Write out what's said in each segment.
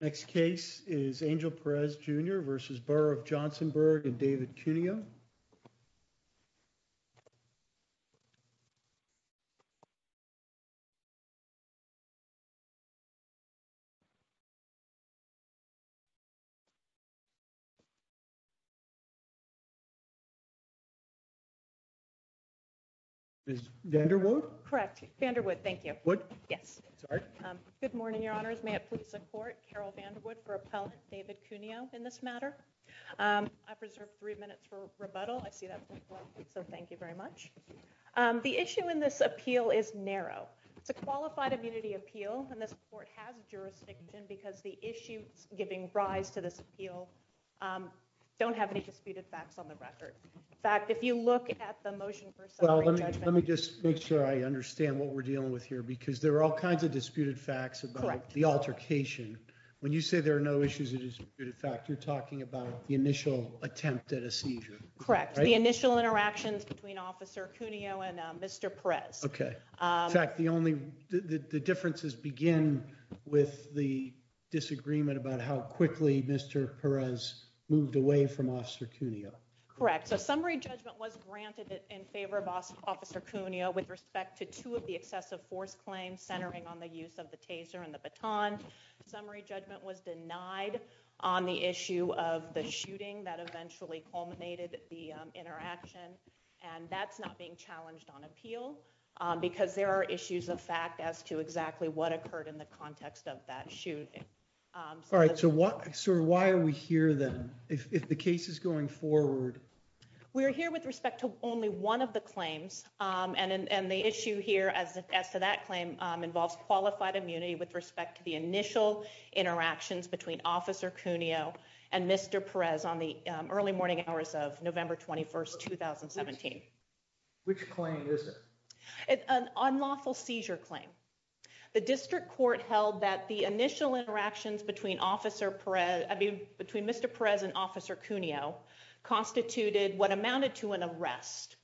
Next case is Angel Perez Jr. v. Borough of Johnsonburg and David Cuneo. Ms. Vanderwood? Correct. Vanderwood, thank you. What? Yes. Sorry. Good morning, Your Honors. May it please the Court, Carol Vanderwood for Appellant David Cuneo in this matter. I preserve three minutes for rebuttal. I see that, so thank you very much. The issue in this appeal is narrow. It's a qualified immunity appeal and this Court has jurisdiction because the issues giving rise to this appeal don't have any disputed facts on the record. In fact, if you look at the motion for summary judgment... Well, let me just make sure I understand what we're dealing with because there are all kinds of disputed facts about the altercation. When you say there are no issues of disputed fact, you're talking about the initial attempt at a seizure. Correct. The initial interactions between Officer Cuneo and Mr. Perez. Okay. In fact, the differences begin with the disagreement about how quickly Mr. Perez moved away from Officer Cuneo. Correct. So summary claims centering on the use of the taser and the baton. Summary judgment was denied on the issue of the shooting that eventually culminated the interaction and that's not being challenged on appeal because there are issues of fact as to exactly what occurred in the context of that shooting. All right. So why are we here then if the case is going forward? We are here with respect to only one of the claims and the issue here as to that claim involves qualified immunity with respect to the initial interactions between Officer Cuneo and Mr. Perez on the early morning hours of November 21st, 2017. Which claim is it? An unlawful seizure claim. The district court held that the initial interactions between Mr. Perez and Officer Cuneo constituted what amounted to an arrest.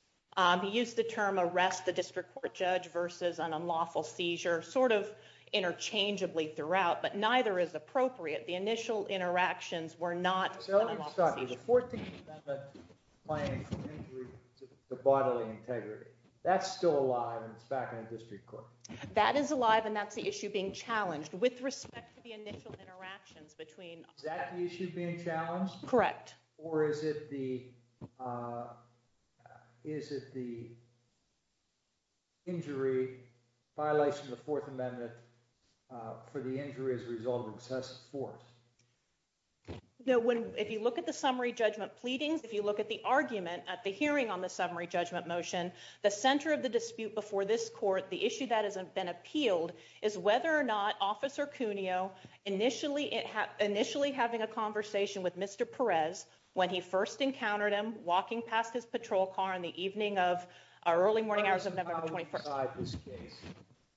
He used the term arrest the district court judge versus an unlawful seizure, sort of interchangeably throughout, but neither is appropriate. The initial interactions were not... That's still alive and it's back in the district court. That is alive and that's the issue being challenged with respect to the initial interactions between... Is that the issue being challenged? Correct. Or is it the injury violation of the Fourth Amendment for the injury as a result of excessive force? No, if you look at the summary judgment pleadings, if you look at the argument at the hearing on the summary judgment motion, the center of the dispute before this court, the issue that has been appealed, is whether or not Officer Cuneo initially having a conversation with Mr. Perez when he first encountered him walking past his patrol car in the evening of our early morning hours of November 21st.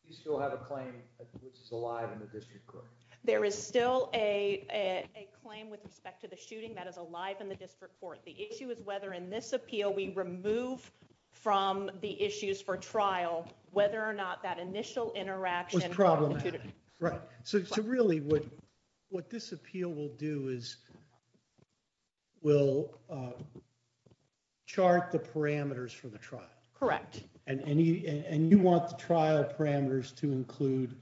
You still have a claim which is alive in the district court? There is still a claim with respect to the shooting that is alive in the district court. The issue is whether in this appeal we remove from the issues for trial whether or not that initial interaction was problematic. Right, so really what this appeal will do is will chart the parameters for the trial. Correct. And you want the trial parameters to include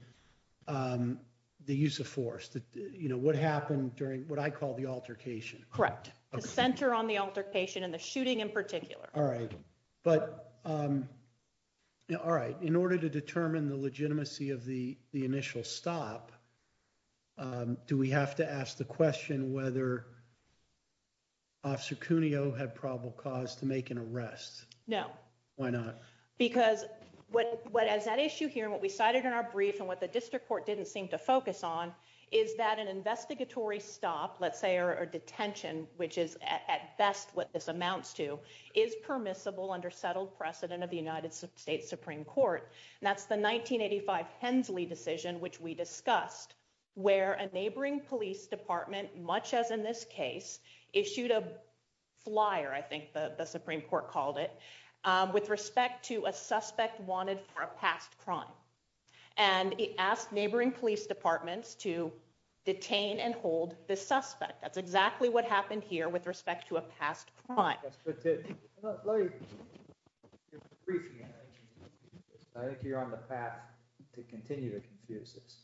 the use of force, you know, what happened during what I call the altercation. Correct. The center on the altercation and the shooting in particular. All right, but all right, in order to determine the legitimacy of the initial stop, do we have to ask the question whether Officer Cuneo had probable cause to make an arrest? No. Why not? Because what has that issue here and what we cited in our brief and what the district court didn't seem to focus on is that an investigatory stop, let's say, or detention, which is at best what this amounts to, is permissible under settled precedent of the United States Supreme Court. And that's the 1985 Hensley decision, which we discussed, where a neighboring police department, much as in this case, issued a flyer, I think the Supreme Court called it, with respect to a suspect wanted for a past crime. And it asked neighboring police departments to detain and hold the suspect. That's exactly what happened here with respect to a past crime. I think you're on the path to continue to confuse this.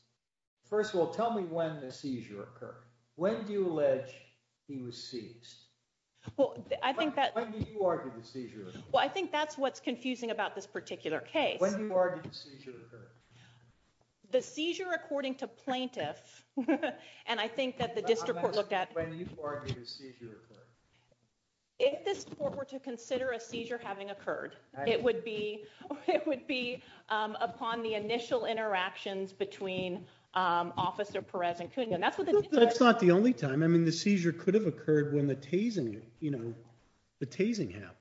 First of all, tell me when the seizure occurred. When do you allege he was seized? Well, I think that's what's confusing about this particular case. The seizure, according to plaintiff, and I think that the district court looked at... When do you argue the seizure occurred? If this court were to consider a seizure having occurred, it would be upon the initial interactions between Officer Perez and Cuneo. That's not the only time. I mean, the seizure could have occurred when the tasing happened.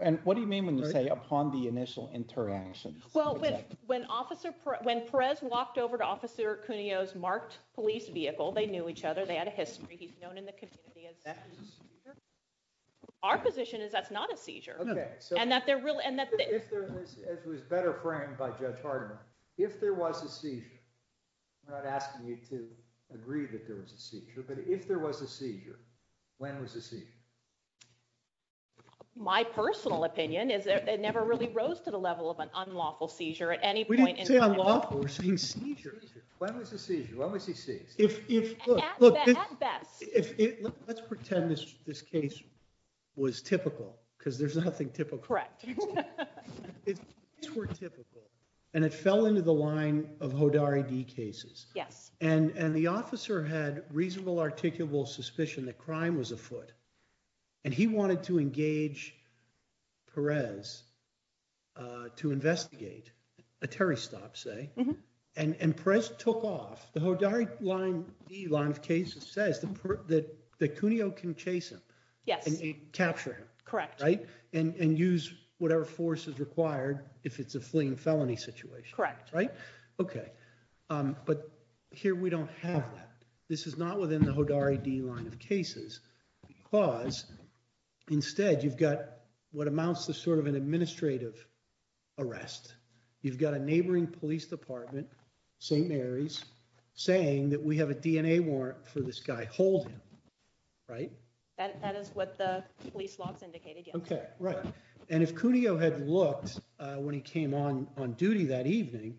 And what do you mean when you say upon the initial interactions? Well, when Perez walked over to Officer Cuneo's marked police vehicle, they knew each other. They had a history. He's known in the community as... That's a seizure? Our position is that's not a seizure. Okay. As was better framed by Judge Hardiman, if there was a seizure, I'm not asking you to agree that there was a seizure, but if there was a seizure, when was the seizure? My personal opinion is that it never really rose to the level of an unlawful seizure at any point. We didn't say unlawful. We're saying seizure. Seizure. When was the seizure? When was he seized? At best. Let's pretend this case was typical, because there's nothing typical. Correct. These were typical, and it fell into the line of Hodari D cases, and the officer had reasonable articulable suspicion that crime was afoot, and he wanted to engage Perez to investigate a terrorist stop, say, and Perez took off. The Hodari D line of cases says that Cuneo can chase him. Yes. Capture him. Correct. Right? And use whatever force is required if it's a fleeing felony situation. Correct. Okay. But here we don't have that. This is not within the Hodari D line of cases, because instead you've got what amounts to sort of an administrative arrest. You've got a neighboring police department, St. Mary's, saying that we have a DNA warrant for this guy. Hold him. Right? That is what the police logs indicated, yes. Right. And if Cuneo had looked when he came on duty that evening,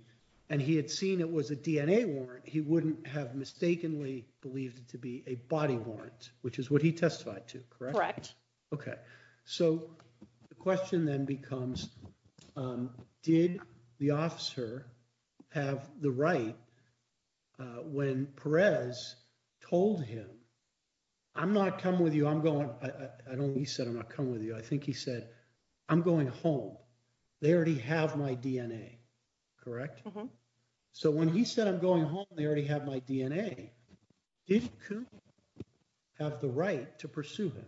and he had seen it was a DNA warrant, he wouldn't have mistakenly believed it to be a body warrant, which is what he testified to. Correct? Correct. Okay. So the question then becomes, did the officer have the right when Perez told him, I'm not coming with you. He said, I'm not coming with you. I think he said, I'm going home. They already have my DNA. Correct? Mm-hmm. So when he said, I'm going home, they already have my DNA. Did Cuneo have the right to pursue him?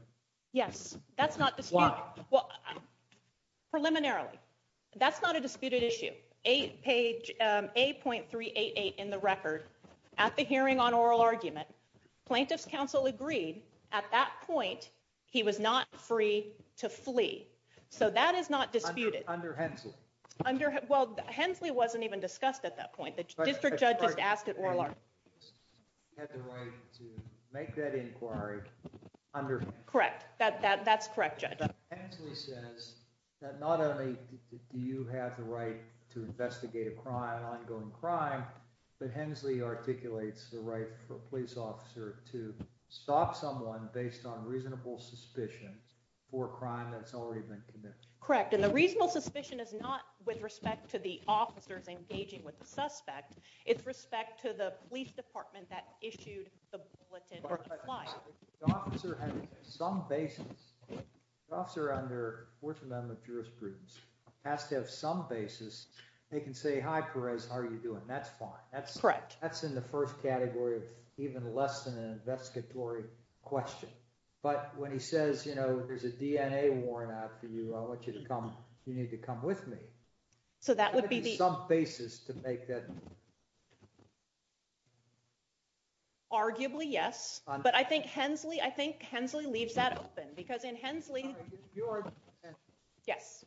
Yes. That's not disputed. Why? Well, preliminarily, that's not a disputed issue. Page 8.388 in the record, at the hearing on oral argument, plaintiff's counsel agreed at that point, he was not free to flee. So that is not disputed. Under Hensley. Well, Hensley wasn't even discussed at that point. The district judge just asked at oral argument. He had the right to make that inquiry under- Correct. That's correct, Judge. Hensley says that not only do you have the right to investigate a crime, an ongoing crime, but Hensley articulates the right for a police officer to stop someone based on reasonable suspicion for a crime that's already been committed. Correct. And the reasonable suspicion is not with respect to the officers engaging with the suspect. It's respect to the police department that issued the bulletin. If the officer has some basis, the officer under Fourth Amendment jurisprudence has to have some That's fine. That's correct. That's in the first category of even less than an investigatory question. But when he says, you know, there's a DNA worn out for you, I want you to come, you need to come with me. So that would be the- Some basis to make that. Arguably, yes. But I think Hensley, I think Hensley leaves that open because in Hensley. Yes.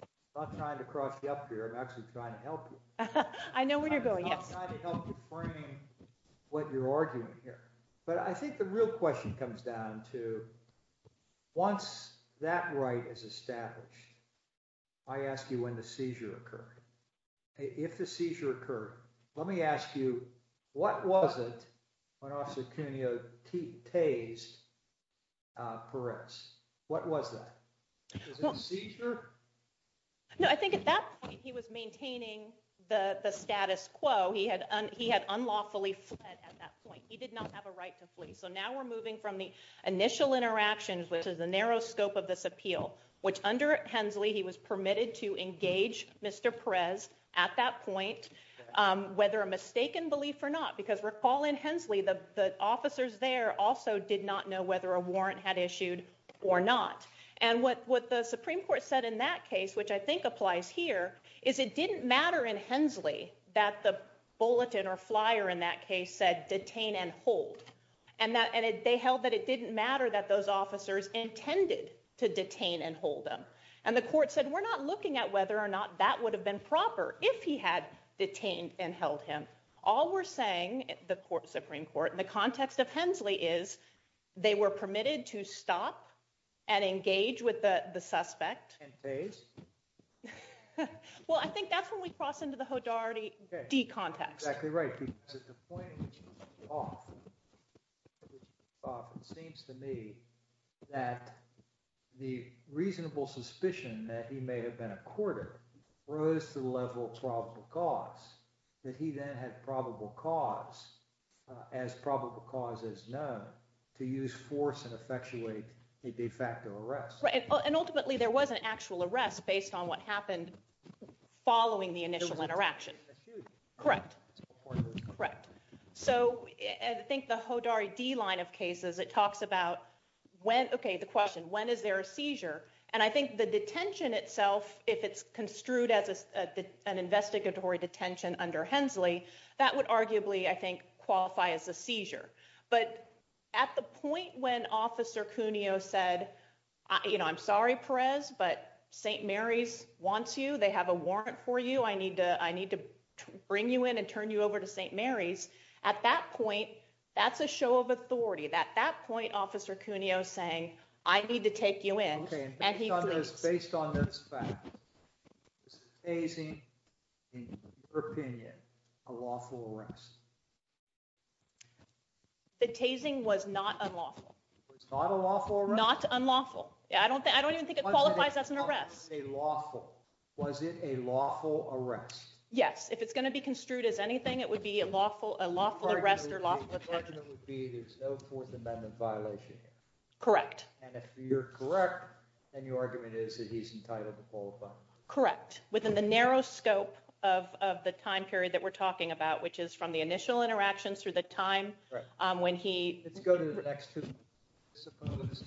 I'm not trying to cross you up here. I'm actually trying to help you. I know where you're going. I'm trying to help you frame what you're arguing here. But I think the real question comes down to once that right is established, I ask you when the seizure occurred. If the seizure occurred, let me ask you, what was it when Officer Cuneo tased Perez? What was that? Was it a seizure? No, I think at that point, he was maintaining the status quo. He had unlawfully fled at that point. He did not have a right to flee. So now we're moving from the initial interactions, which is the narrow scope of this appeal, which under Hensley, he was permitted to engage Mr. Perez at that point, whether a mistaken belief or not, because recall in Hensley, the officers there also did not know whether a warrant had issued or not. And what the Supreme Court said in that case, which I think applies here, is it didn't matter in Hensley that the bulletin or flyer in that case said detain and hold. And they held that it didn't matter that those officers intended to detain and hold them. And the court said, we're not looking at whether or not that would have been proper if he had detained and held him. All we're saying, the Supreme Court, in the context of Hensley, is they were permitted to stop and engage with the suspect. Well, I think that's when we cross into the Hodarity D context. Exactly right. It seems to me that the reasonable suspicion that he may have been a courter rose to the level of probable cause, that he then had probable cause, as probable cause is known, to use force and effectuate a de facto arrest. And ultimately, there was an actual arrest based on what happened following the initial interaction. Correct. Correct. So I think the Hodarity D line of cases, it talks about when, okay, the question, when is there a seizure? And I think the detention itself, if it's construed as an investigatory detention under Hensley, that would arguably, I think, qualify as a seizure. But at the point when Officer Cuneo said, I'm sorry, Perez, but St. Mary's wants you. They have a warrant for you. I need to bring you in and turn you over to St. Mary's. At that point, that's a show of authority. At that point, Officer Cuneo is saying, I need to take you in. Okay. And based on this fact, is the tasing, in your opinion, a lawful arrest? The tasing was not unlawful. It's not a lawful arrest? Not unlawful. I don't even think it qualifies as an arrest. Was it a lawful arrest? Yes. If it's going to be construed as anything, it would be a lawful arrest or lawful detention. The argument would be there's no Fourth Amendment violation. Correct. And if you're correct, then your argument is that he's entitled to qualify. Correct. Within the narrow scope of the time period that we're talking about, which is from the initial interactions through the time when he... Let's go to the next two. Let's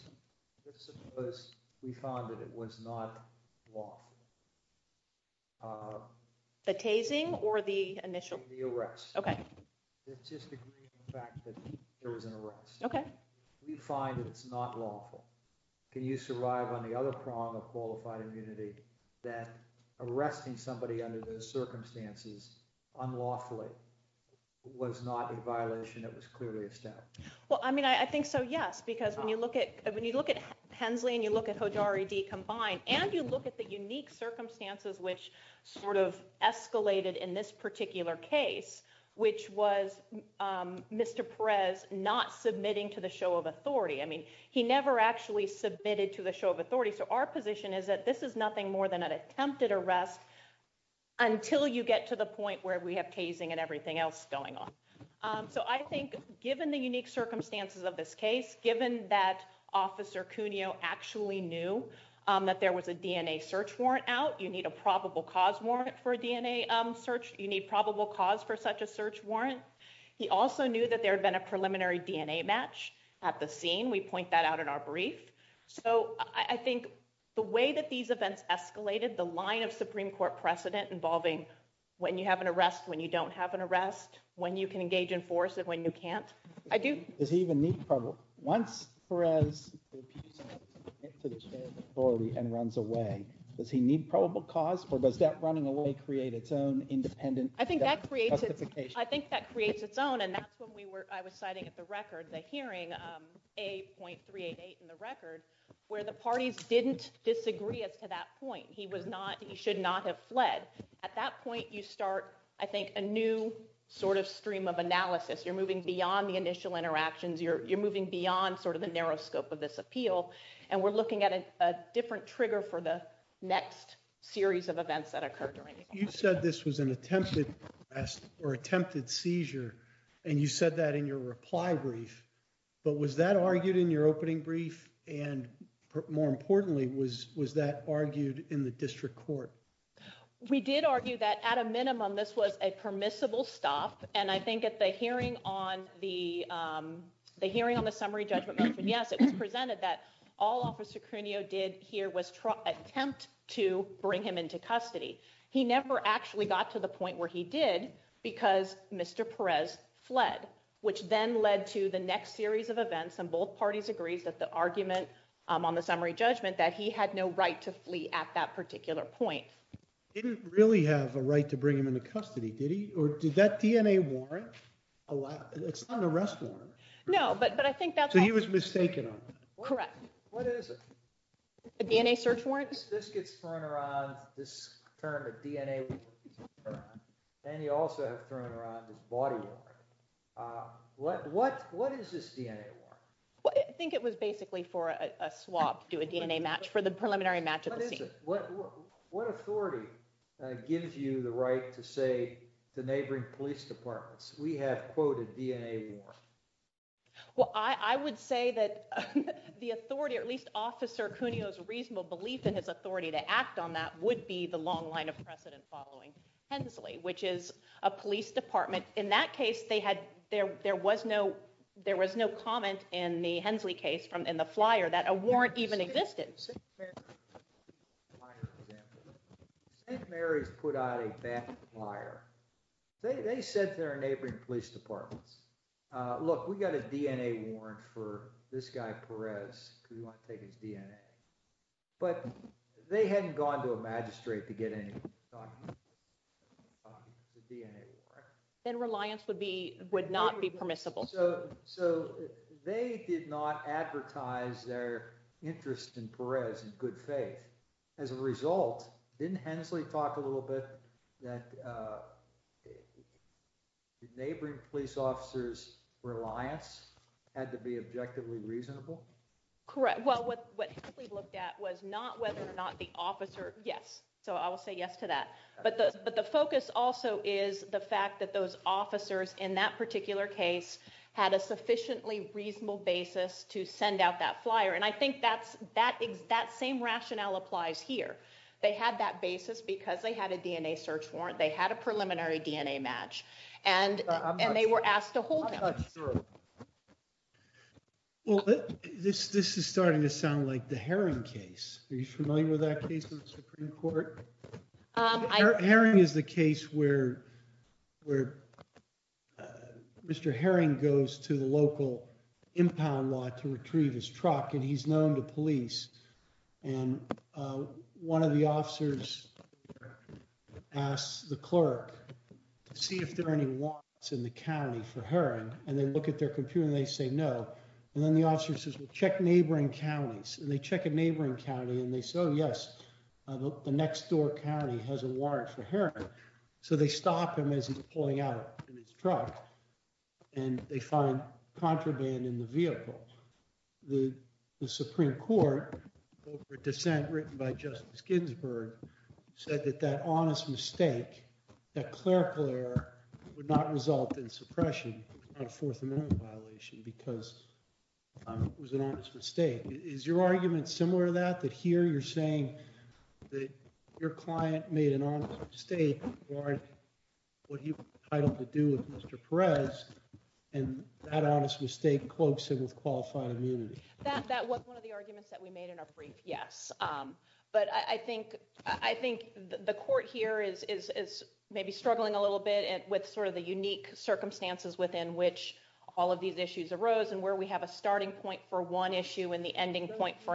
suppose we found that it was not lawful. The tasing or the initial? The arrest. Okay. Let's just agree on the fact that there was an arrest. Okay. We find that it's not lawful. Can you survive on the other prong of qualified immunity that arresting somebody under those circumstances unlawfully was not a violation that was clearly a step? Well, I mean, I think so, yes. Because when you look at Hensley and you look at Hodjari D combined, and you look at the unique circumstances which sort of escalated in this particular case, which was Mr. Perez not submitting to the show of authority. I mean, he never actually submitted to the show of authority. So our position is that this is nothing more than an attempted arrest until you get to the point where we have tasing and everything else going on. So I think given the unique circumstances of this case, given that Officer Cuneo actually knew that there was a DNA search warrant out, you need a probable cause warrant for a DNA search. You need probable cause for such a search warrant. He also knew that there had been a preliminary DNA match at the scene. We point that out in our brief. So I think the way that these events escalated, the line of Supreme Court precedent involving when you have an arrest, when you don't have an arrest, when you can engage in force, and when you can't. I do... Once Perez submits to the show of authority and runs away, does he need probable cause or does that running away create its own independent justification? I think that creates its own, and that's when I was citing at the hearing, A.388 in the record, where the parties didn't disagree as to that point. He should not have fled. At that point, you start, I think, a new stream of analysis. You're moving beyond the initial interactions. You're moving beyond the narrow scope of this appeal, and we're looking at a different trigger for the next series of events that occur during the process. You said this was an attempted arrest or attempted seizure, and you said that in your reply brief, but was that argued in your opening brief? And more importantly, was that argued in the district court? We did argue that at a minimum, this was a permissible stop, and I think at the hearing on the summary judgment motion, yes, it was presented that all Officer Crunio did here was attempt to bring him into custody. He never actually got to the point where he did because Mr. Perez fled, which then led to the next series of events, and both parties agreed that the argument on the summary judgment that he had no right to flee at that particular point. Didn't really have a right to bring him into custody, did he? Or did that DNA warrant allow—it's not an arrest warrant. No, but I think that's— So he was mistaken on that. Correct. What is it? A DNA search warrant? This gets thrown around, this term, a DNA warrant, and you also have thrown around this body warrant. What is this DNA warrant? I think it was basically for a swab to do a DNA match for the preliminary match at the scene. What authority gives you the right to say to neighboring police departments, we have quoted DNA warrant? Well, I would say that the authority, or at least Officer Crunio's reasonable belief in his authority to act on that would be the long line of precedent following Hensley, which is a police department. In that a warrant even existed. St. Mary's put out a bad flyer. They said to their neighboring police departments, look, we got a DNA warrant for this guy Perez because we want to take his DNA. But they hadn't gone to a magistrate to get any documents. Then reliance would not be permissible. So they did not advertise their interest in Perez in good faith. As a result, didn't Hensley talk a little bit that neighboring police officers' reliance had to be objectively reasonable? Correct. Well, what Hensley looked at was not whether or not the officer—yes, so I will say yes to that. But the focus also is the fact that those officers in that particular case had a sufficiently reasonable basis to send out that flyer. And I think that same rationale applies here. They had that basis because they had a DNA search warrant. They had a preliminary DNA match, and they were asked to hold them. Well, this is starting to sound like the Supreme Court. Herring is the case where Mr. Herring goes to the local impound lot to retrieve his truck, and he's known to police. And one of the officers asks the clerk to see if there are any locks in the county for Herring. And they look at their computer, and they say no. And then the officer says, well, check neighboring counties. And they check a neighboring county, and they say, yes, the next-door county has a warrant for Herring. So they stop him as he's pulling out in his truck, and they find contraband in the vehicle. The Supreme Court, over a dissent written by Justice Ginsburg, said that that honest mistake, that clerical error, would not result in suppression on a Fourth Amendment violation because it was an honest mistake. Is your argument similar to that, that here you're saying that your client made an honest mistake regarding what he was entitled to do with Mr. Perez, and that honest mistake cloaks him with qualified immunity? That was one of the arguments that we made in our brief, yes. But I think the court here is maybe struggling a little bit with the unique circumstances within which all of these issues are related. And I think that's a point for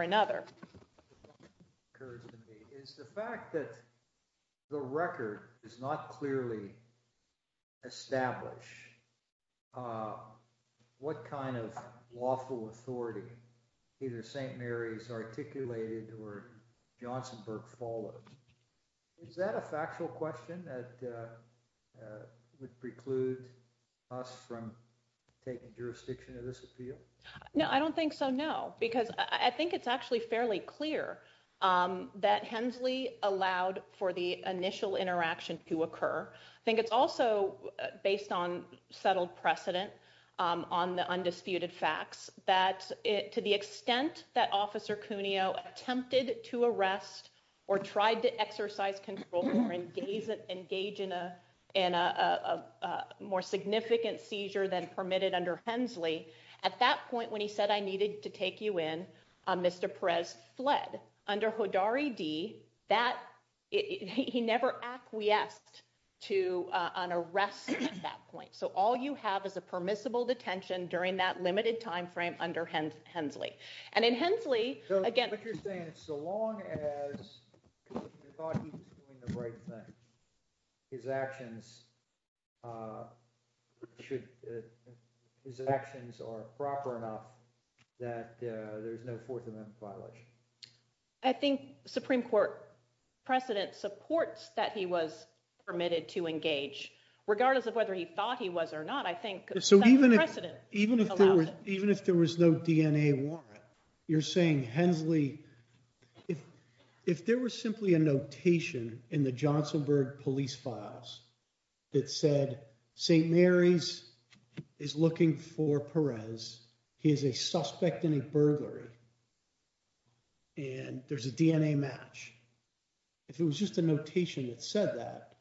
another. What occurs to me is the fact that the record does not clearly establish what kind of lawful authority either St. Mary's articulated or Johnsonburg followed. Is that a factual question that would preclude us from taking jurisdiction of this appeal? No, I don't think so, no, because I think it's actually fairly clear that Hensley allowed for the initial interaction to occur. I think it's also, based on settled precedent on the undisputed facts, that to the extent that Officer Cuneo attempted to arrest or tried to exercise control or engage in a more significant seizure than permitted under Hensley, at that point when he said, I needed to take you in, Mr. Perez fled. Under Hodari D, he never acquiesced to an arrest at that point. So all you have is a permissible detention during that limited timeframe under Hensley. And in Hensley, again- But you're saying so long as you thought he was doing the right thing, his actions are proper enough that there's no Fourth Amendment violation? I think Supreme Court precedent supports that he was permitted to engage, regardless of whether he thought he was or not. I think- So even if there was no DNA warrant, you're saying Hensley, if there was simply a notation in the Johnsonburg police files that said St. Mary's is looking for Perez, he is a suspect in a burglary, and there's a DNA match. If it was just a notation that said that,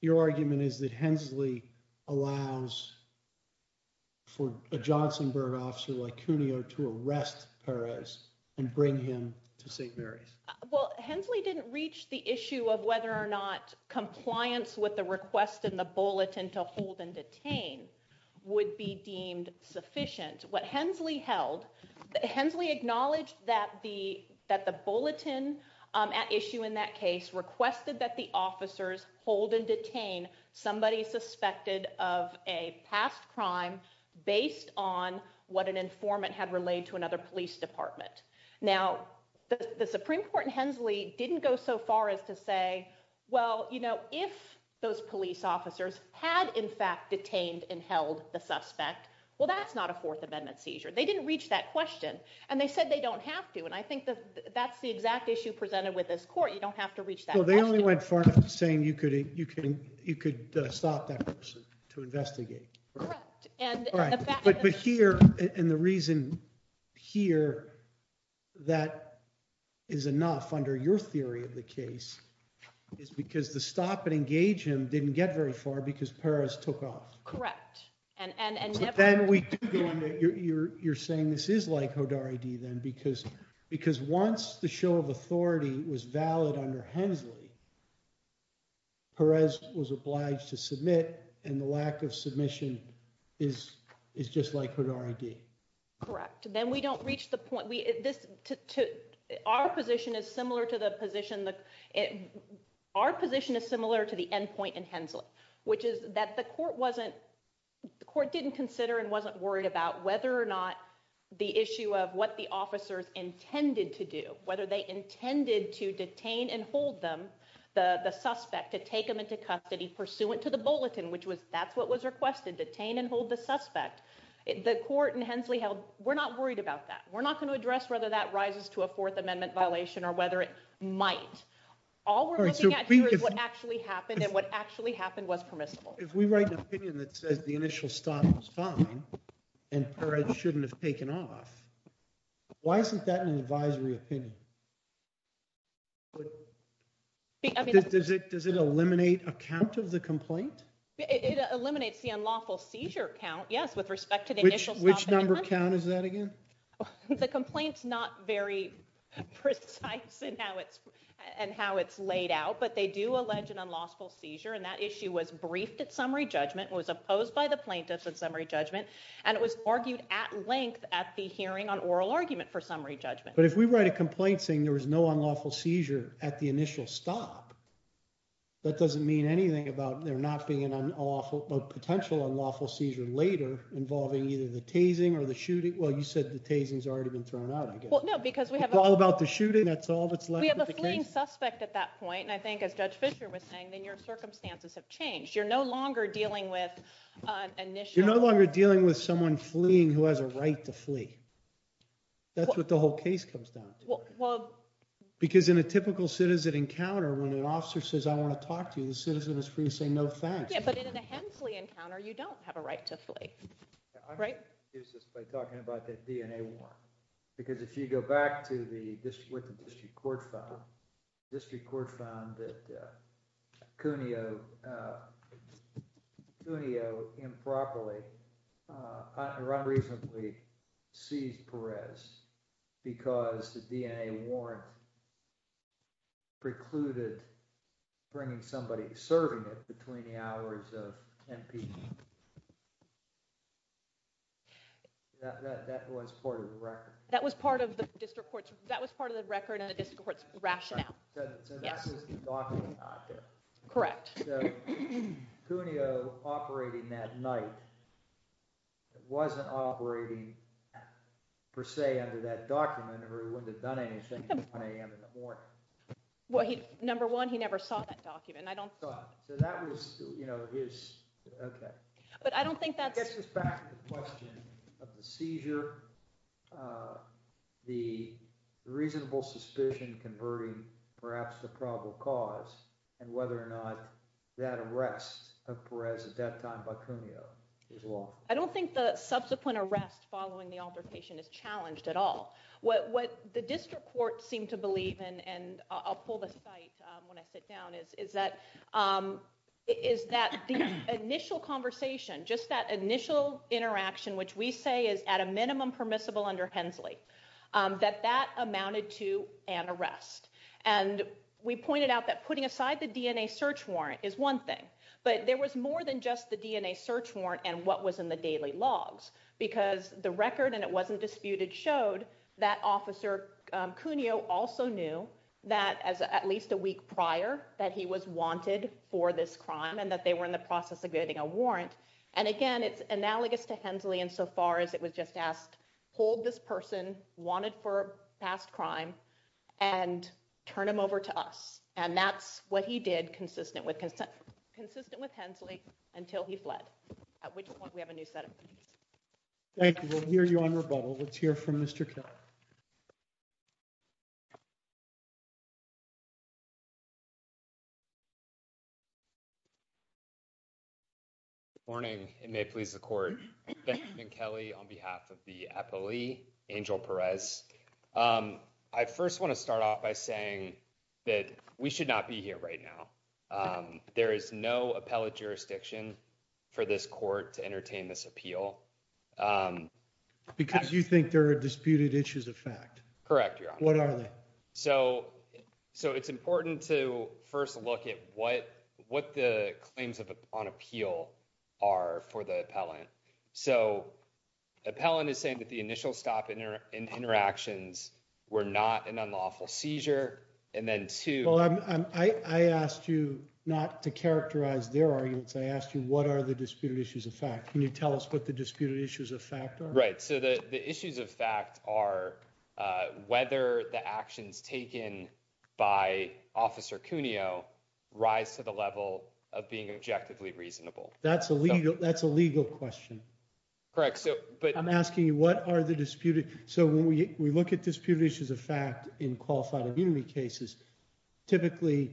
your argument is that Hensley allows for a Johnsonburg officer like Cuneo to arrest Perez and bring him to St. Mary's? Well, Hensley didn't reach the issue of whether or not compliance with the request in the bulletin to hold and detain would be deemed sufficient. What Hensley held, Hensley acknowledged that the a past crime based on what an informant had relayed to another police department. Now, the Supreme Court in Hensley didn't go so far as to say, well, if those police officers had in fact detained and held the suspect, well, that's not a Fourth Amendment seizure. They didn't reach that question. And they said they don't have to. And I think that's the exact issue presented with this court. You don't have to reach that question. You could stop that person to investigate. But here, and the reason here that is enough under your theory of the case is because the stop and engage him didn't get very far because Perez took off. Correct. Then you're saying this is like HODAR-ID then, because once the show of authority was valid under Hensley, Perez was obliged to submit and the lack of submission is just like HODAR-ID. Correct. Then we don't reach the point. Our position is similar to the end point in Hensley, which is that the court didn't consider and wasn't worried about whether or not the issue of what the officers intended to do, whether they intended to detain and hold them, the suspect, to take them into custody pursuant to the bulletin, which was, that's what was requested, detain and hold the suspect. The court in Hensley held, we're not worried about that. We're not going to address whether that rises to a Fourth Amendment violation or whether it might. All we're looking at here is what actually happened and what actually happened was permissible. If we write an opinion that says the initial stop was fine and Perez shouldn't have taken off, why isn't that an advisory opinion? Does it eliminate a count of the complaint? It eliminates the unlawful seizure count, yes, with respect to the initial stop. Which number count is that again? The complaint's not very precise in how it's laid out, but they do allege an unlawful seizure and that issue was briefed at summary judgment, was opposed by the plaintiffs at summary judgment, and it was argued at length at the hearing on oral argument for summary judgment. But if we write a complaint saying there was no unlawful seizure at the initial stop, that doesn't mean anything about there not being an unlawful, a potential unlawful seizure later involving either the tasing or the shooting. Well, you said the tasing's already been thrown out, I guess. Well, no, because we have... It's all about the shooting, that's all that's left of the case. We have a fleeing suspect at that point, and I think as Judge Fisher was saying, then your circumstances have changed. You're no longer dealing with an initial... You're no longer dealing with someone fleeing who has a right to flee. That's what the whole case comes down to. Well... Because in a typical citizen encounter, when an officer says, I want to talk to you, the citizen is free to say no thanks. Yeah, but in a Hensley encounter, you don't have a right to flee. Right? I'm going to use this by talking about that DNA warrant. Because if you go back to the... The District Court found that Cuneo improperly or unreasonably seized Perez because the DNA warrant precluded bringing somebody, serving it between the hours of 10 p.m. That was part of the record. That was part of the record and the District Court's rationale. So that's his document out there. Correct. Cuneo operating that night, it wasn't operating per se under that document, or he wouldn't have done anything at 1 a.m. in the morning. Number one, he never saw that document. I don't... So that was his... Okay. But I don't think that's... It gets us back to the question of the seizure, the reasonable suspicion converting perhaps the probable cause, and whether or not that arrest of Perez at that time by Cuneo is lawful. I don't think the subsequent arrest following the altercation is challenged at all. What the District Court seemed to believe, and I'll pull the site when I sit down, is that the initial conversation, just that initial interaction, which we say is at a minimum permissible under Hensley, that that amounted to an arrest. And we pointed out that putting aside the DNA search warrant is one thing, but there was more than just the DNA search warrant and what was in the daily logs because the record, and it wasn't disputed, showed that Officer Cuneo also knew that at least a week prior that he was wanted for this crime and that they were in the process of getting a warrant. And again, it's analogous to Hensley insofar as it was just asked, hold this person wanted for past crime and turn him over to us. And that's what he did consistent with Hensley until he fled, at which point we have a new set of... Thank you. We'll hear you on rebuttal. Let's hear from Mr. Keller. Good morning. It may please the court. Benjamin Kelly on behalf of the appellee, Angel Perez. I first want to start off by saying that we should not be here right now. There is no appellate jurisdiction for this court to entertain this appeal. Because you think there are disputed issues of fact. Correct, Your Honor. What are they? So it's important to first look at what the claims on appeal are for the appellant. So appellant is saying that the initial stop and interactions were not an unlawful seizure. And then two... Well, I asked you not to characterize their arguments. I asked you, what are the disputed issues of fact? Can you tell us what the disputed issues of fact are? So the issues of fact are whether the actions taken by Officer Cuneo rise to the level of being objectively reasonable. That's a legal question. Correct. I'm asking you, what are the disputed... So when we look at disputed issues of fact in qualified immunity cases, typically,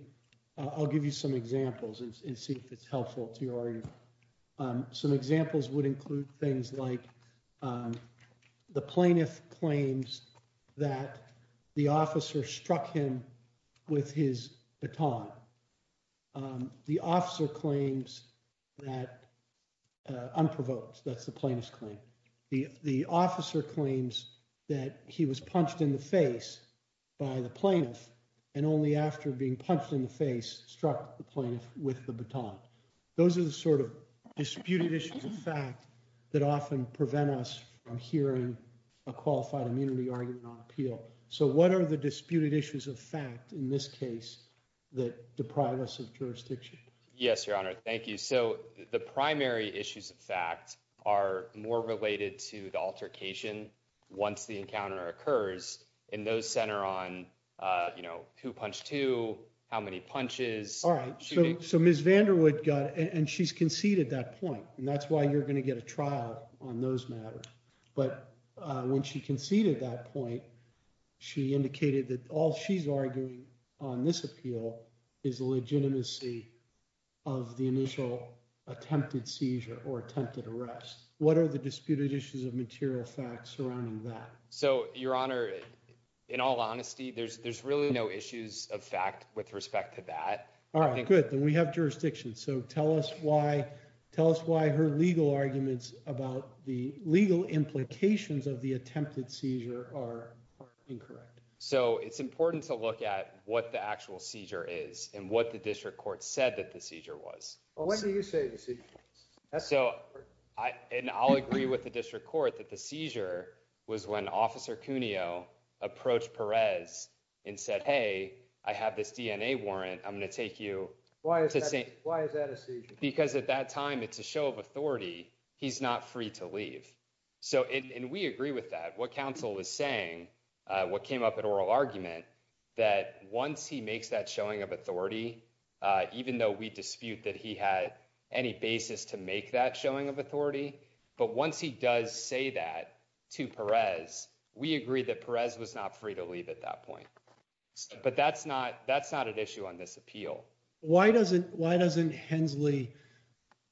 I'll give you some examples and see if it's helpful to your argument. Some examples would include things like the plaintiff claims that the officer struck him with his baton. The officer claims that... Unprovoked, that's the plaintiff's claim. The officer claims that he was punched in the face by the plaintiff, and only after being punched in the face, struck the plaintiff with the baton. Those are the sort of disputed issues of fact that often prevent us from hearing a qualified immunity argument on appeal. So what are the disputed issues of fact in this case that deprive us of jurisdiction? Yes, Your Honor. Thank you. So the primary issues of fact are more related to the altercation once the encounter occurs, and those center on who punched who, how many punches... So Ms. Vanderwood got... And she's conceded that point, and that's why you're going to get a trial on those matters. But when she conceded that point, she indicated that all she's arguing on this appeal is the legitimacy of the initial attempted seizure or attempted arrest. What are the disputed issues of material fact surrounding that? So, Your Honor, in all honesty, there's really no issues of fact with respect to that. All right, good. We have jurisdiction, so tell us why her legal arguments about the legal implications of the attempted seizure are incorrect. So it's important to look at what the actual seizure is and what the district court said that the seizure was. Well, what do you say the seizure was? So, and I'll agree with the district court that the seizure was when Officer Cuneo approached Perez and said, hey, I have this DNA warrant. I'm going to take you... Why is that a seizure? Because at that time, it's a show of authority. He's not free to leave. So, and we agree with that. What counsel is saying, what came up in oral argument, that once he makes that showing of authority, even though we dispute that he had any basis to make that showing of authority, but once he does say that to Perez, we agree that Perez was not free to leave at that point. But that's not an issue on this appeal. Why doesn't Hensley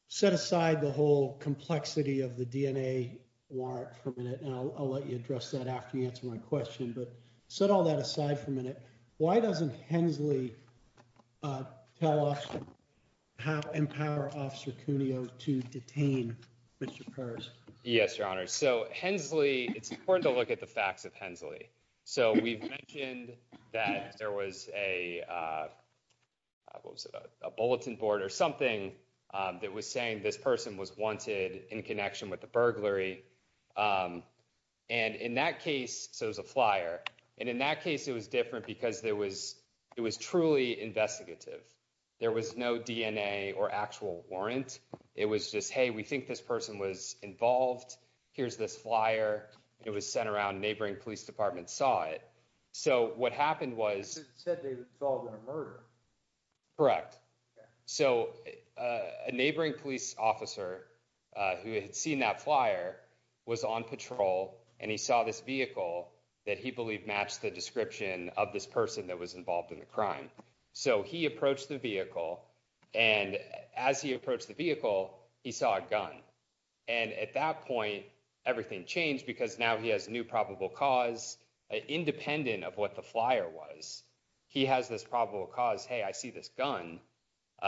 set aside the whole complexity of the DNA warrant for a minute? And I'll let you address that after you answer my question, but set all that aside for a minute. Why doesn't Hensley tell us how, empower Officer Cuneo to detain Mr. Perez? Yes, Your Honor. So Hensley, it's important to look at the facts of Hensley. So we've mentioned that there was a bulletin board or something that was saying this person was wanted in connection with the burglary. And in that case, so it was a flyer. And in that case, it was different because it was truly investigative. There was no DNA or actual warrant. It was just, hey, we think this person was involved. Here's this flyer. It was sent around, neighboring police department saw it. So what happened was- It said they were involved in a murder. Correct. So a neighboring police officer who had seen that flyer was on patrol. And he saw this vehicle that he believed matched the description of this person that was involved in the crime. So he approached the vehicle. And as he approached the vehicle, he saw a gun. And at that point, everything changed because now he has a new probable cause. Independent of what the flyer was, he has this probable cause. Hey, I see this gun.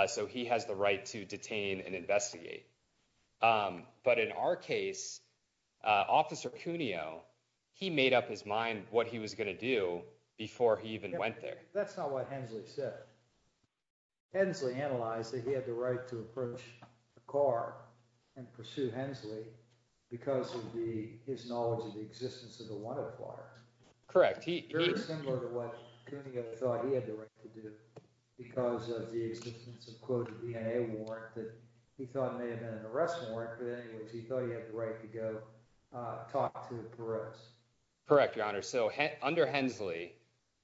So he has the right to detain and investigate. But in our case, Officer Cuneo, he made up his mind what he was going to do before he even went there. That's not what Hensley said. Hensley analyzed that he had the right to approach the car and pursue Hensley because of his knowledge of the existence of the wanted flyer. Correct. Very similar to what Cuneo thought he had the right to do because of the existence of a DNA warrant that he thought may have been an arrest warrant. But anyways, he thought he had the right to go talk to Perez. Correct, Your Honor. So under Hensley,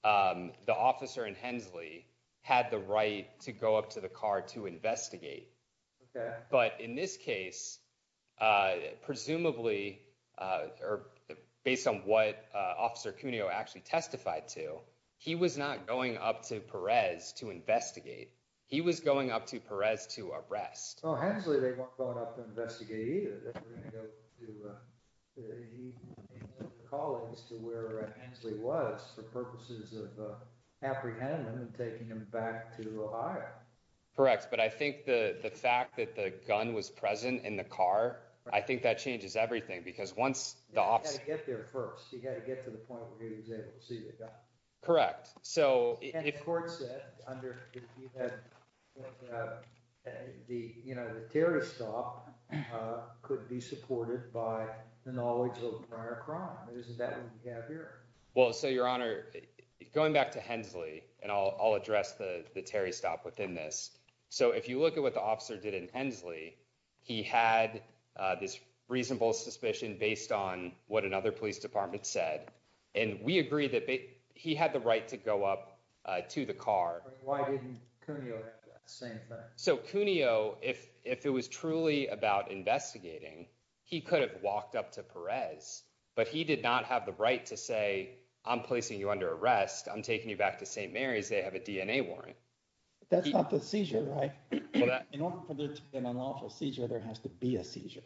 the officer in Hensley had the right to go up to the car to investigate. But in this case, presumably, or based on what Officer Cuneo actually testified to, he was not going up to Perez to investigate. He was going up to Perez to arrest. Well, Hensley, they weren't going up to investigate either. They were going to go to the colleagues to where Hensley was for purposes of apprehending him and taking him back to Ohio. Correct. But I think the fact that the gun was present in the car, I think that changes everything. Because once the officer... He had to get there first. He had to get to the point where he was able to see the gun. Correct. And the court said, you know, the terrorist stop could be supported by the knowledge of the prior crime. Isn't that what we have here? Well, so, Your Honor, going back to Hensley, and I'll address the terrorist stop within this. So if you look at what the officer did in Hensley, he had this reasonable suspicion based on what another police department said. And we agree that he had the right to go up to the car. Why didn't Cuneo say that? So Cuneo, if it was truly about investigating, he could have walked up to Perez, but he did not have the right to say, I'm placing you under arrest. I'm taking you back to St. Mary's. They have a DNA warrant. That's not the seizure, right? In order for there to be an unlawful seizure, there has to be a seizure.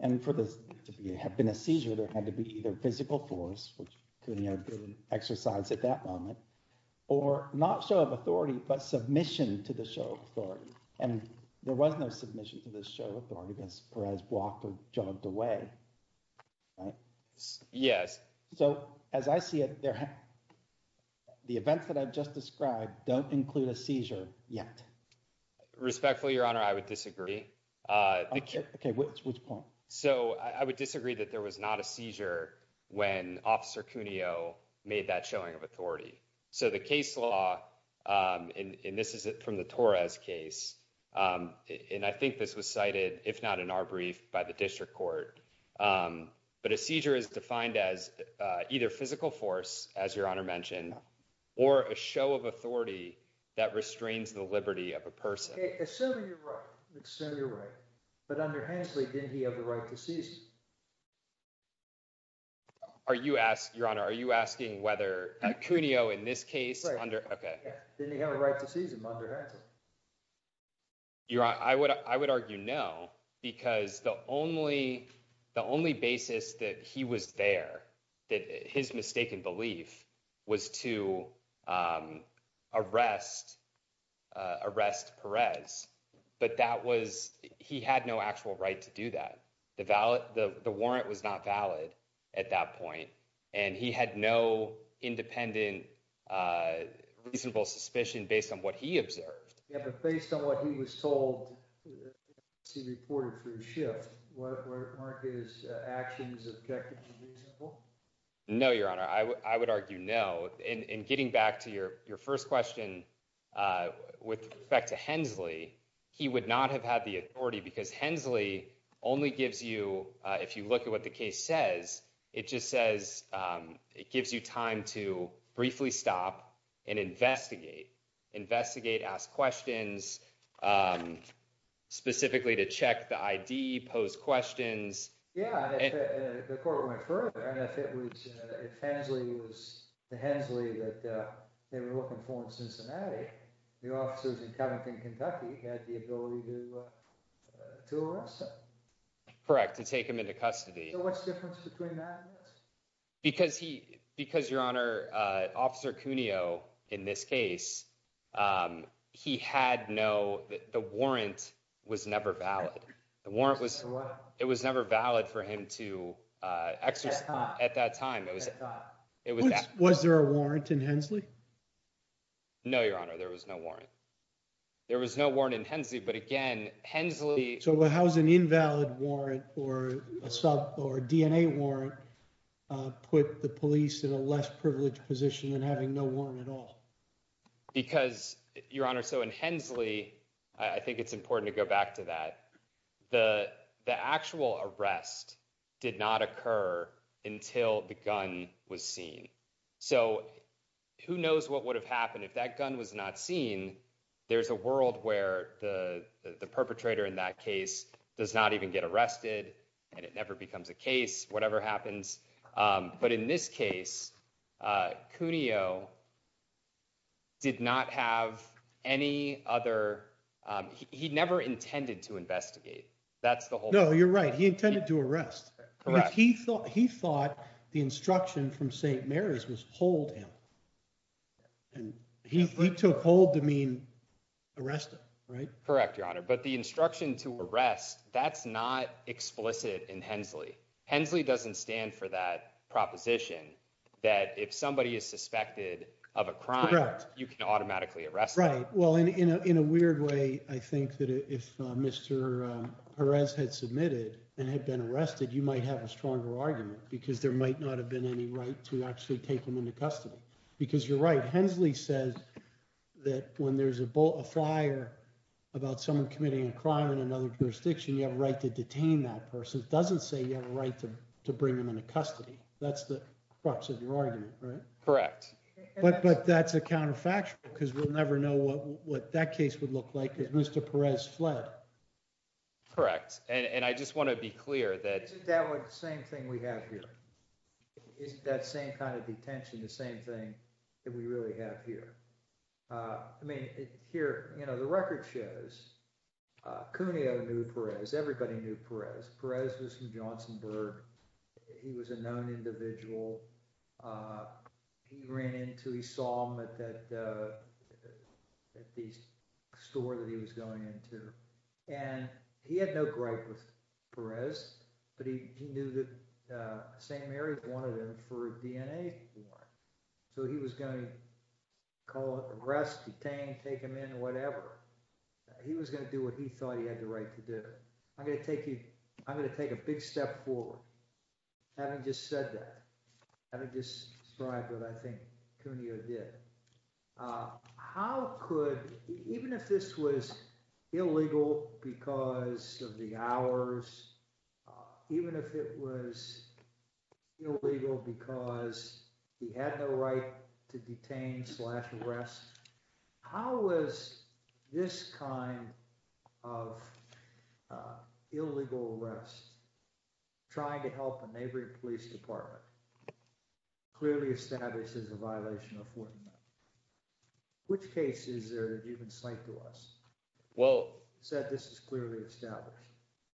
And for this to have been a seizure, there had to be either physical force, which Cuneo did an exercise at that moment, or not show of authority, but submission to the show of authority. And there was no submission to the show of authority because Perez walked or jogged away. Right? Yes. So as I see it, the events that I've just described don't include a seizure yet. Respectfully, Your Honor, I would disagree. Okay, which point? So I would disagree that there was not a seizure when Officer Cuneo made that showing of authority. So the case law, and this is from the Torres case, and I think this was cited, if not in our brief, by the district court, but a seizure is defined as either physical force, as Your Honor mentioned, or a show of authority that restrains the liberty of a person. Assuming you're right. Let's assume you're right. But under Hensley, didn't he have the right to seize him? Are you asking, Your Honor, are you asking whether Cuneo in this case? Right. Okay. Didn't he have a right to seize him under Hensley? Your Honor, I would argue no, because the only basis that he was there, that his mistaken belief was to arrest Perez. But that was, he had no actual right to do that. The warrant was not valid at that point. And he had no independent reasonable suspicion based on what he observed. But based on what he was told, he reported for his shift. Weren't his actions objective and reasonable? No, Your Honor, I would argue no. And getting back to your first question with respect to Hensley, he would not have had the authority because Hensley only gives you, if you look at what the case says, it just says, it gives you time to briefly stop and investigate. Investigate, ask questions, specifically to check the ID, pose questions. Yeah, and if the court went further, and if it was, if Hensley was the Hensley that they were looking for in Cincinnati, the officers in Covington, Kentucky had the ability to arrest him. Correct, to take him into custody. So what's the difference between that and this? Because he, because, Your Honor, Officer Cuneo in this case, he had no, the warrant was never valid. The warrant was, it was never valid for him to exercise at that time. Was there a warrant in Hensley? No, Your Honor, there was no warrant. There was no warrant in Hensley, but again, Hensley. So how's an invalid warrant or a sub or DNA warrant put the police in a less privileged position and having no warrant at all? Because, Your Honor, so in Hensley, I think it's important to go back to that. The actual arrest did not occur until the gun was seen. So who knows what would have happened if that gun was not seen. There's a world where the perpetrator in that case does not even get arrested and it never becomes a case, whatever happens. But in this case, Cuneo did not have any other, he never intended to investigate. That's the whole thing. No, you're right. He intended to arrest. He thought the instruction from St. Mary's was hold him. And he took hold to mean arrest him, right? Correct, Your Honor. But the instruction to arrest, that's not explicit in Hensley. Hensley doesn't stand for that proposition that if somebody is suspected of a crime, you can automatically arrest them. Right. Well, in a weird way, I think that if Mr. Perez had submitted and had been arrested, you might have a stronger argument because there might not have been any right to actually take him into custody. Because you're right. Hensley says that when there's a fire about someone committing a crime in another jurisdiction, you have a right to detain that person. It doesn't say you have a right to bring him into custody. That's the crux of your argument, right? Correct. But that's a counterfactual because we'll never know what that case would look like because Mr. Perez fled. Correct. And I just want to be clear that... Isn't that the same thing we have here? Isn't that same kind of detention the same thing that we really have here? I mean, here, you know, the record shows Cuneo knew Perez. Everybody knew Perez. Perez was from Johnsonburg. He was a known individual. He ran into... He saw him at the store that he was going into and he had no gripe with Perez, but he knew that St. Mary wanted him for a DNA test. So he was going to call it arrest, detain, take him in, whatever. He was going to do what he thought he had the right to do. I'm going to take you... I'm going to take a big step forward. Having just said that, having just described what I think Cuneo did, uh, how could... Even if this was illegal because of the hours, even if it was illegal because he had no right to detain slash arrest, how was this kind of illegal arrest, trying to help a neighboring police department, that clearly establishes a violation of Fortinet? Which cases are you going to cite to us that said this is clearly established?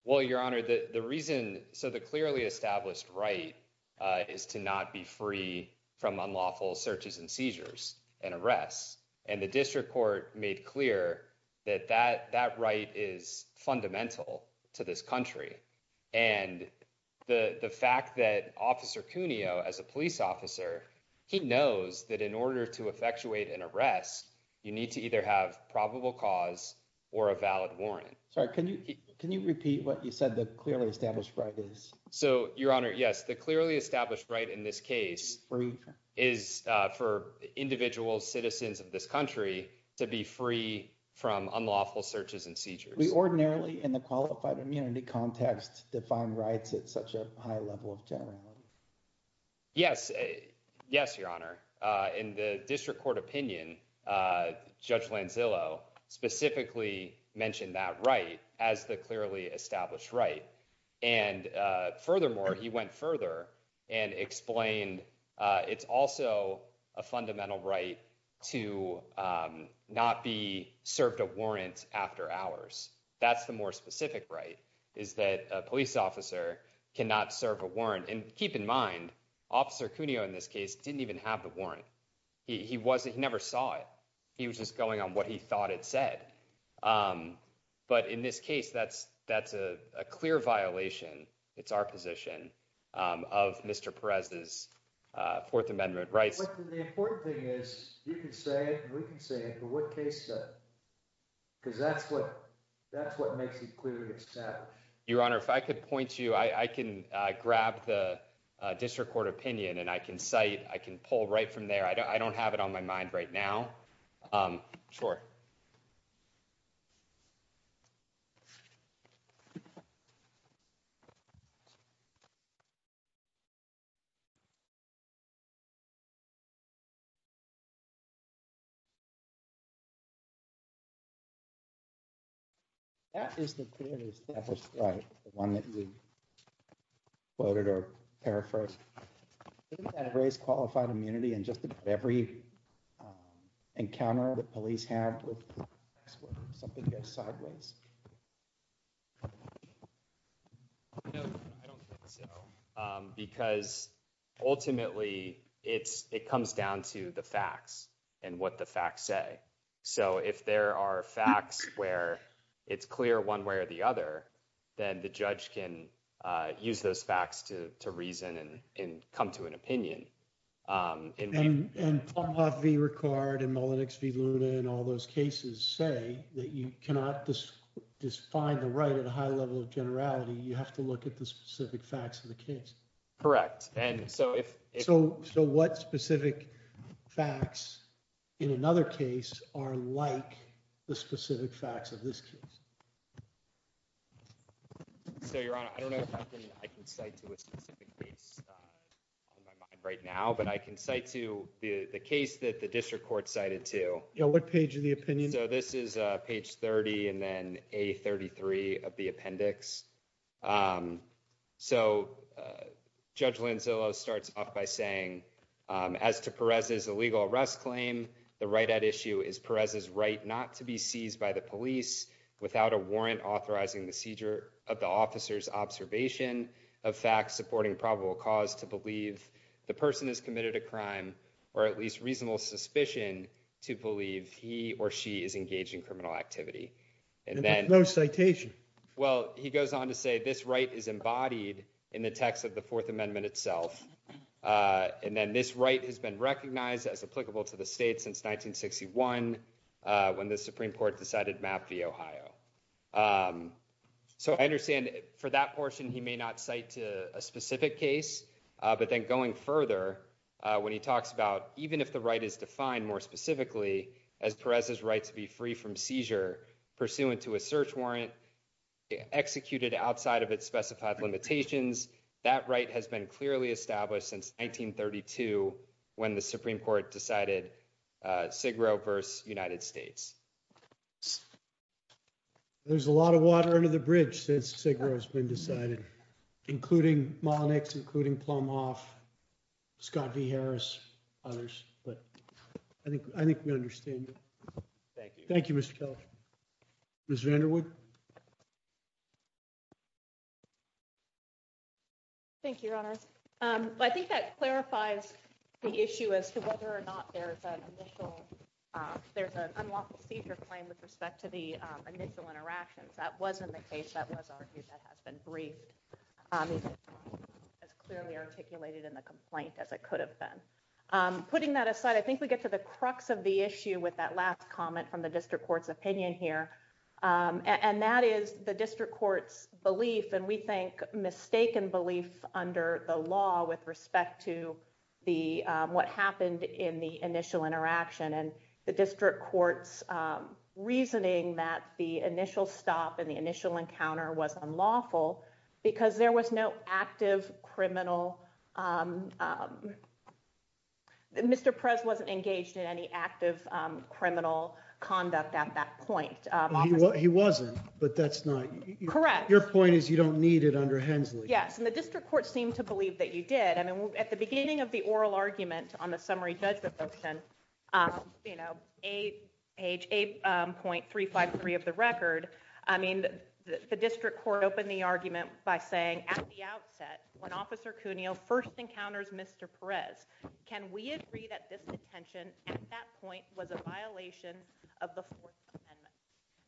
Well, Your Honor, the reason... So the clearly established right is to not be free from unlawful searches and seizures and arrests. And the district court made clear that that right is fundamental to this country. And the fact that Officer Cuneo, as a police officer, he knows that in order to effectuate an arrest, you need to either have probable cause or a valid warrant. Sorry, can you repeat what you said the clearly established right is? So, Your Honor, yes. The clearly established right in this case is for individual citizens of this country to be free from unlawful searches and seizures. We ordinarily, in the qualified immunity context, define rights at such a high level of generality. Yes. Yes, Your Honor. In the district court opinion, Judge Lanzillo specifically mentioned that right as the clearly established right. And furthermore, he went further and explained it's also a fundamental right to not be served a warrant after hours. That's the more specific right, is that a police officer cannot serve a warrant. And keep in mind, Officer Cuneo in this case didn't even have the warrant. He wasn't, he never saw it. He was just going on what he thought it said. But in this case, that's a clear violation, it's our position, of Mr. Perez's Fourth Amendment rights. The important thing is you can say it and we can say it, but what case said it? Because that's what makes it clearly established. Your Honor, if I could point to you, I can grab the district court opinion and I can cite, I can pull right from there. I don't have it on my mind right now. Sure. That is the clearly established right, the one that you quoted or paraphrased. Didn't that raise qualified immunity in just about every encounter that police have with something that goes sideways? No, I don't think so. Because ultimately, it's, it comes down to the facts and what the facts say. So if there are facts where it's clear one way or the other, then the judge can use those facts to reason and come to an opinion. And Plumhoff v. Ricard and Mullenix v. Luna and all those cases say that you cannot just find the right at a high level of generality. You have to look at the specific facts of the case. Correct. So what specific facts in another case are like the specific facts of this case? So, Your Honor, I don't know if I can cite to a specific case on my mind right now, but I can cite to the case that the district court cited to. Yeah, what page of the opinion? So this is page 30 and then A33 of the appendix. Um, so Judge Lanzillo starts off by saying, as to Perez's illegal arrest claim, the right at issue is Perez's right not to be seized by the police without a warrant authorizing the seizure of the officer's observation of facts supporting probable cause to believe the person has committed a crime or at least reasonable suspicion to believe he or she is engaged in criminal activity. And then no citation. Well, he goes on to say this right is embodied in the text of the Fourth Amendment itself. And then this right has been recognized as applicable to the state since 1961 when the Supreme Court decided Mapp v. Ohio. So I understand for that portion, he may not cite to a specific case, but then going further when he talks about even if the right is defined more specifically as Perez's right to be free from seizure pursuant to a search warrant, executed outside of its specified limitations, that right has been clearly established since 1932 when the Supreme Court decided Sigro v. United States. There's a lot of water under the bridge since Sigro has been decided, including Malinix, including Plumhoff, Scott v. Harris, others. But I think I think we understand. Thank you. Thank you, Mr. Kelly. Ms. Vanderwood. Thank you, Your Honors. But I think that clarifies the issue as to whether or not there's an initial there's an unlawful seizure claim with respect to the initial interactions. That wasn't the case that was argued that has been briefed as clearly articulated in the complaint as it could have been. Putting that aside, I think we get to the crux of the issue with that last comment from the district court's opinion here, and that is the district court's belief. And we think mistaken belief under the law with respect to the what happened in the initial interaction and the district court's reasoning that the initial stop in the initial encounter was unlawful because there was no active criminal. Mr. Prez wasn't engaged in any active criminal conduct at that point. He wasn't, but that's not correct. Your point is you don't need it under Hensley. Yes. And the district court seemed to believe that you did. I mean, at the beginning of the oral argument on the summary judgment, you know, age 8.353 of the record. I mean, the district court opened the argument by saying at the outset, when Officer Cuneo first encounters Mr. Perez, can we agree that this detention at that point was a violation of the Fourth Amendment?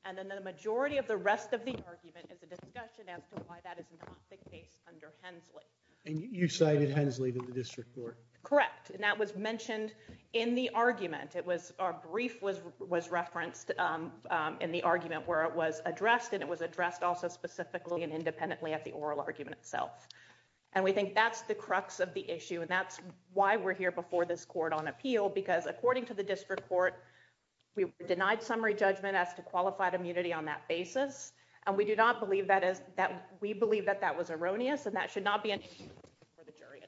And then the majority of the rest of the argument is a discussion as to why that is not the case under Hensley. And you cited Hensley to the district court. Correct. And that was mentioned in the argument. It was our brief was referenced in the argument where it was addressed, and it was addressed also specifically and independently at the oral argument itself. And we think that's the crux of the issue. And that's why we're here before this court on appeal, because according to the district court, we were denied summary judgment as to qualified immunity on that basis. And we do not believe that is that we believe that that was erroneous. And that should not be for the jury.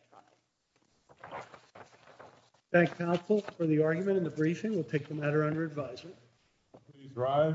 Thank you for the argument in the briefing. We'll take the matter under advisement.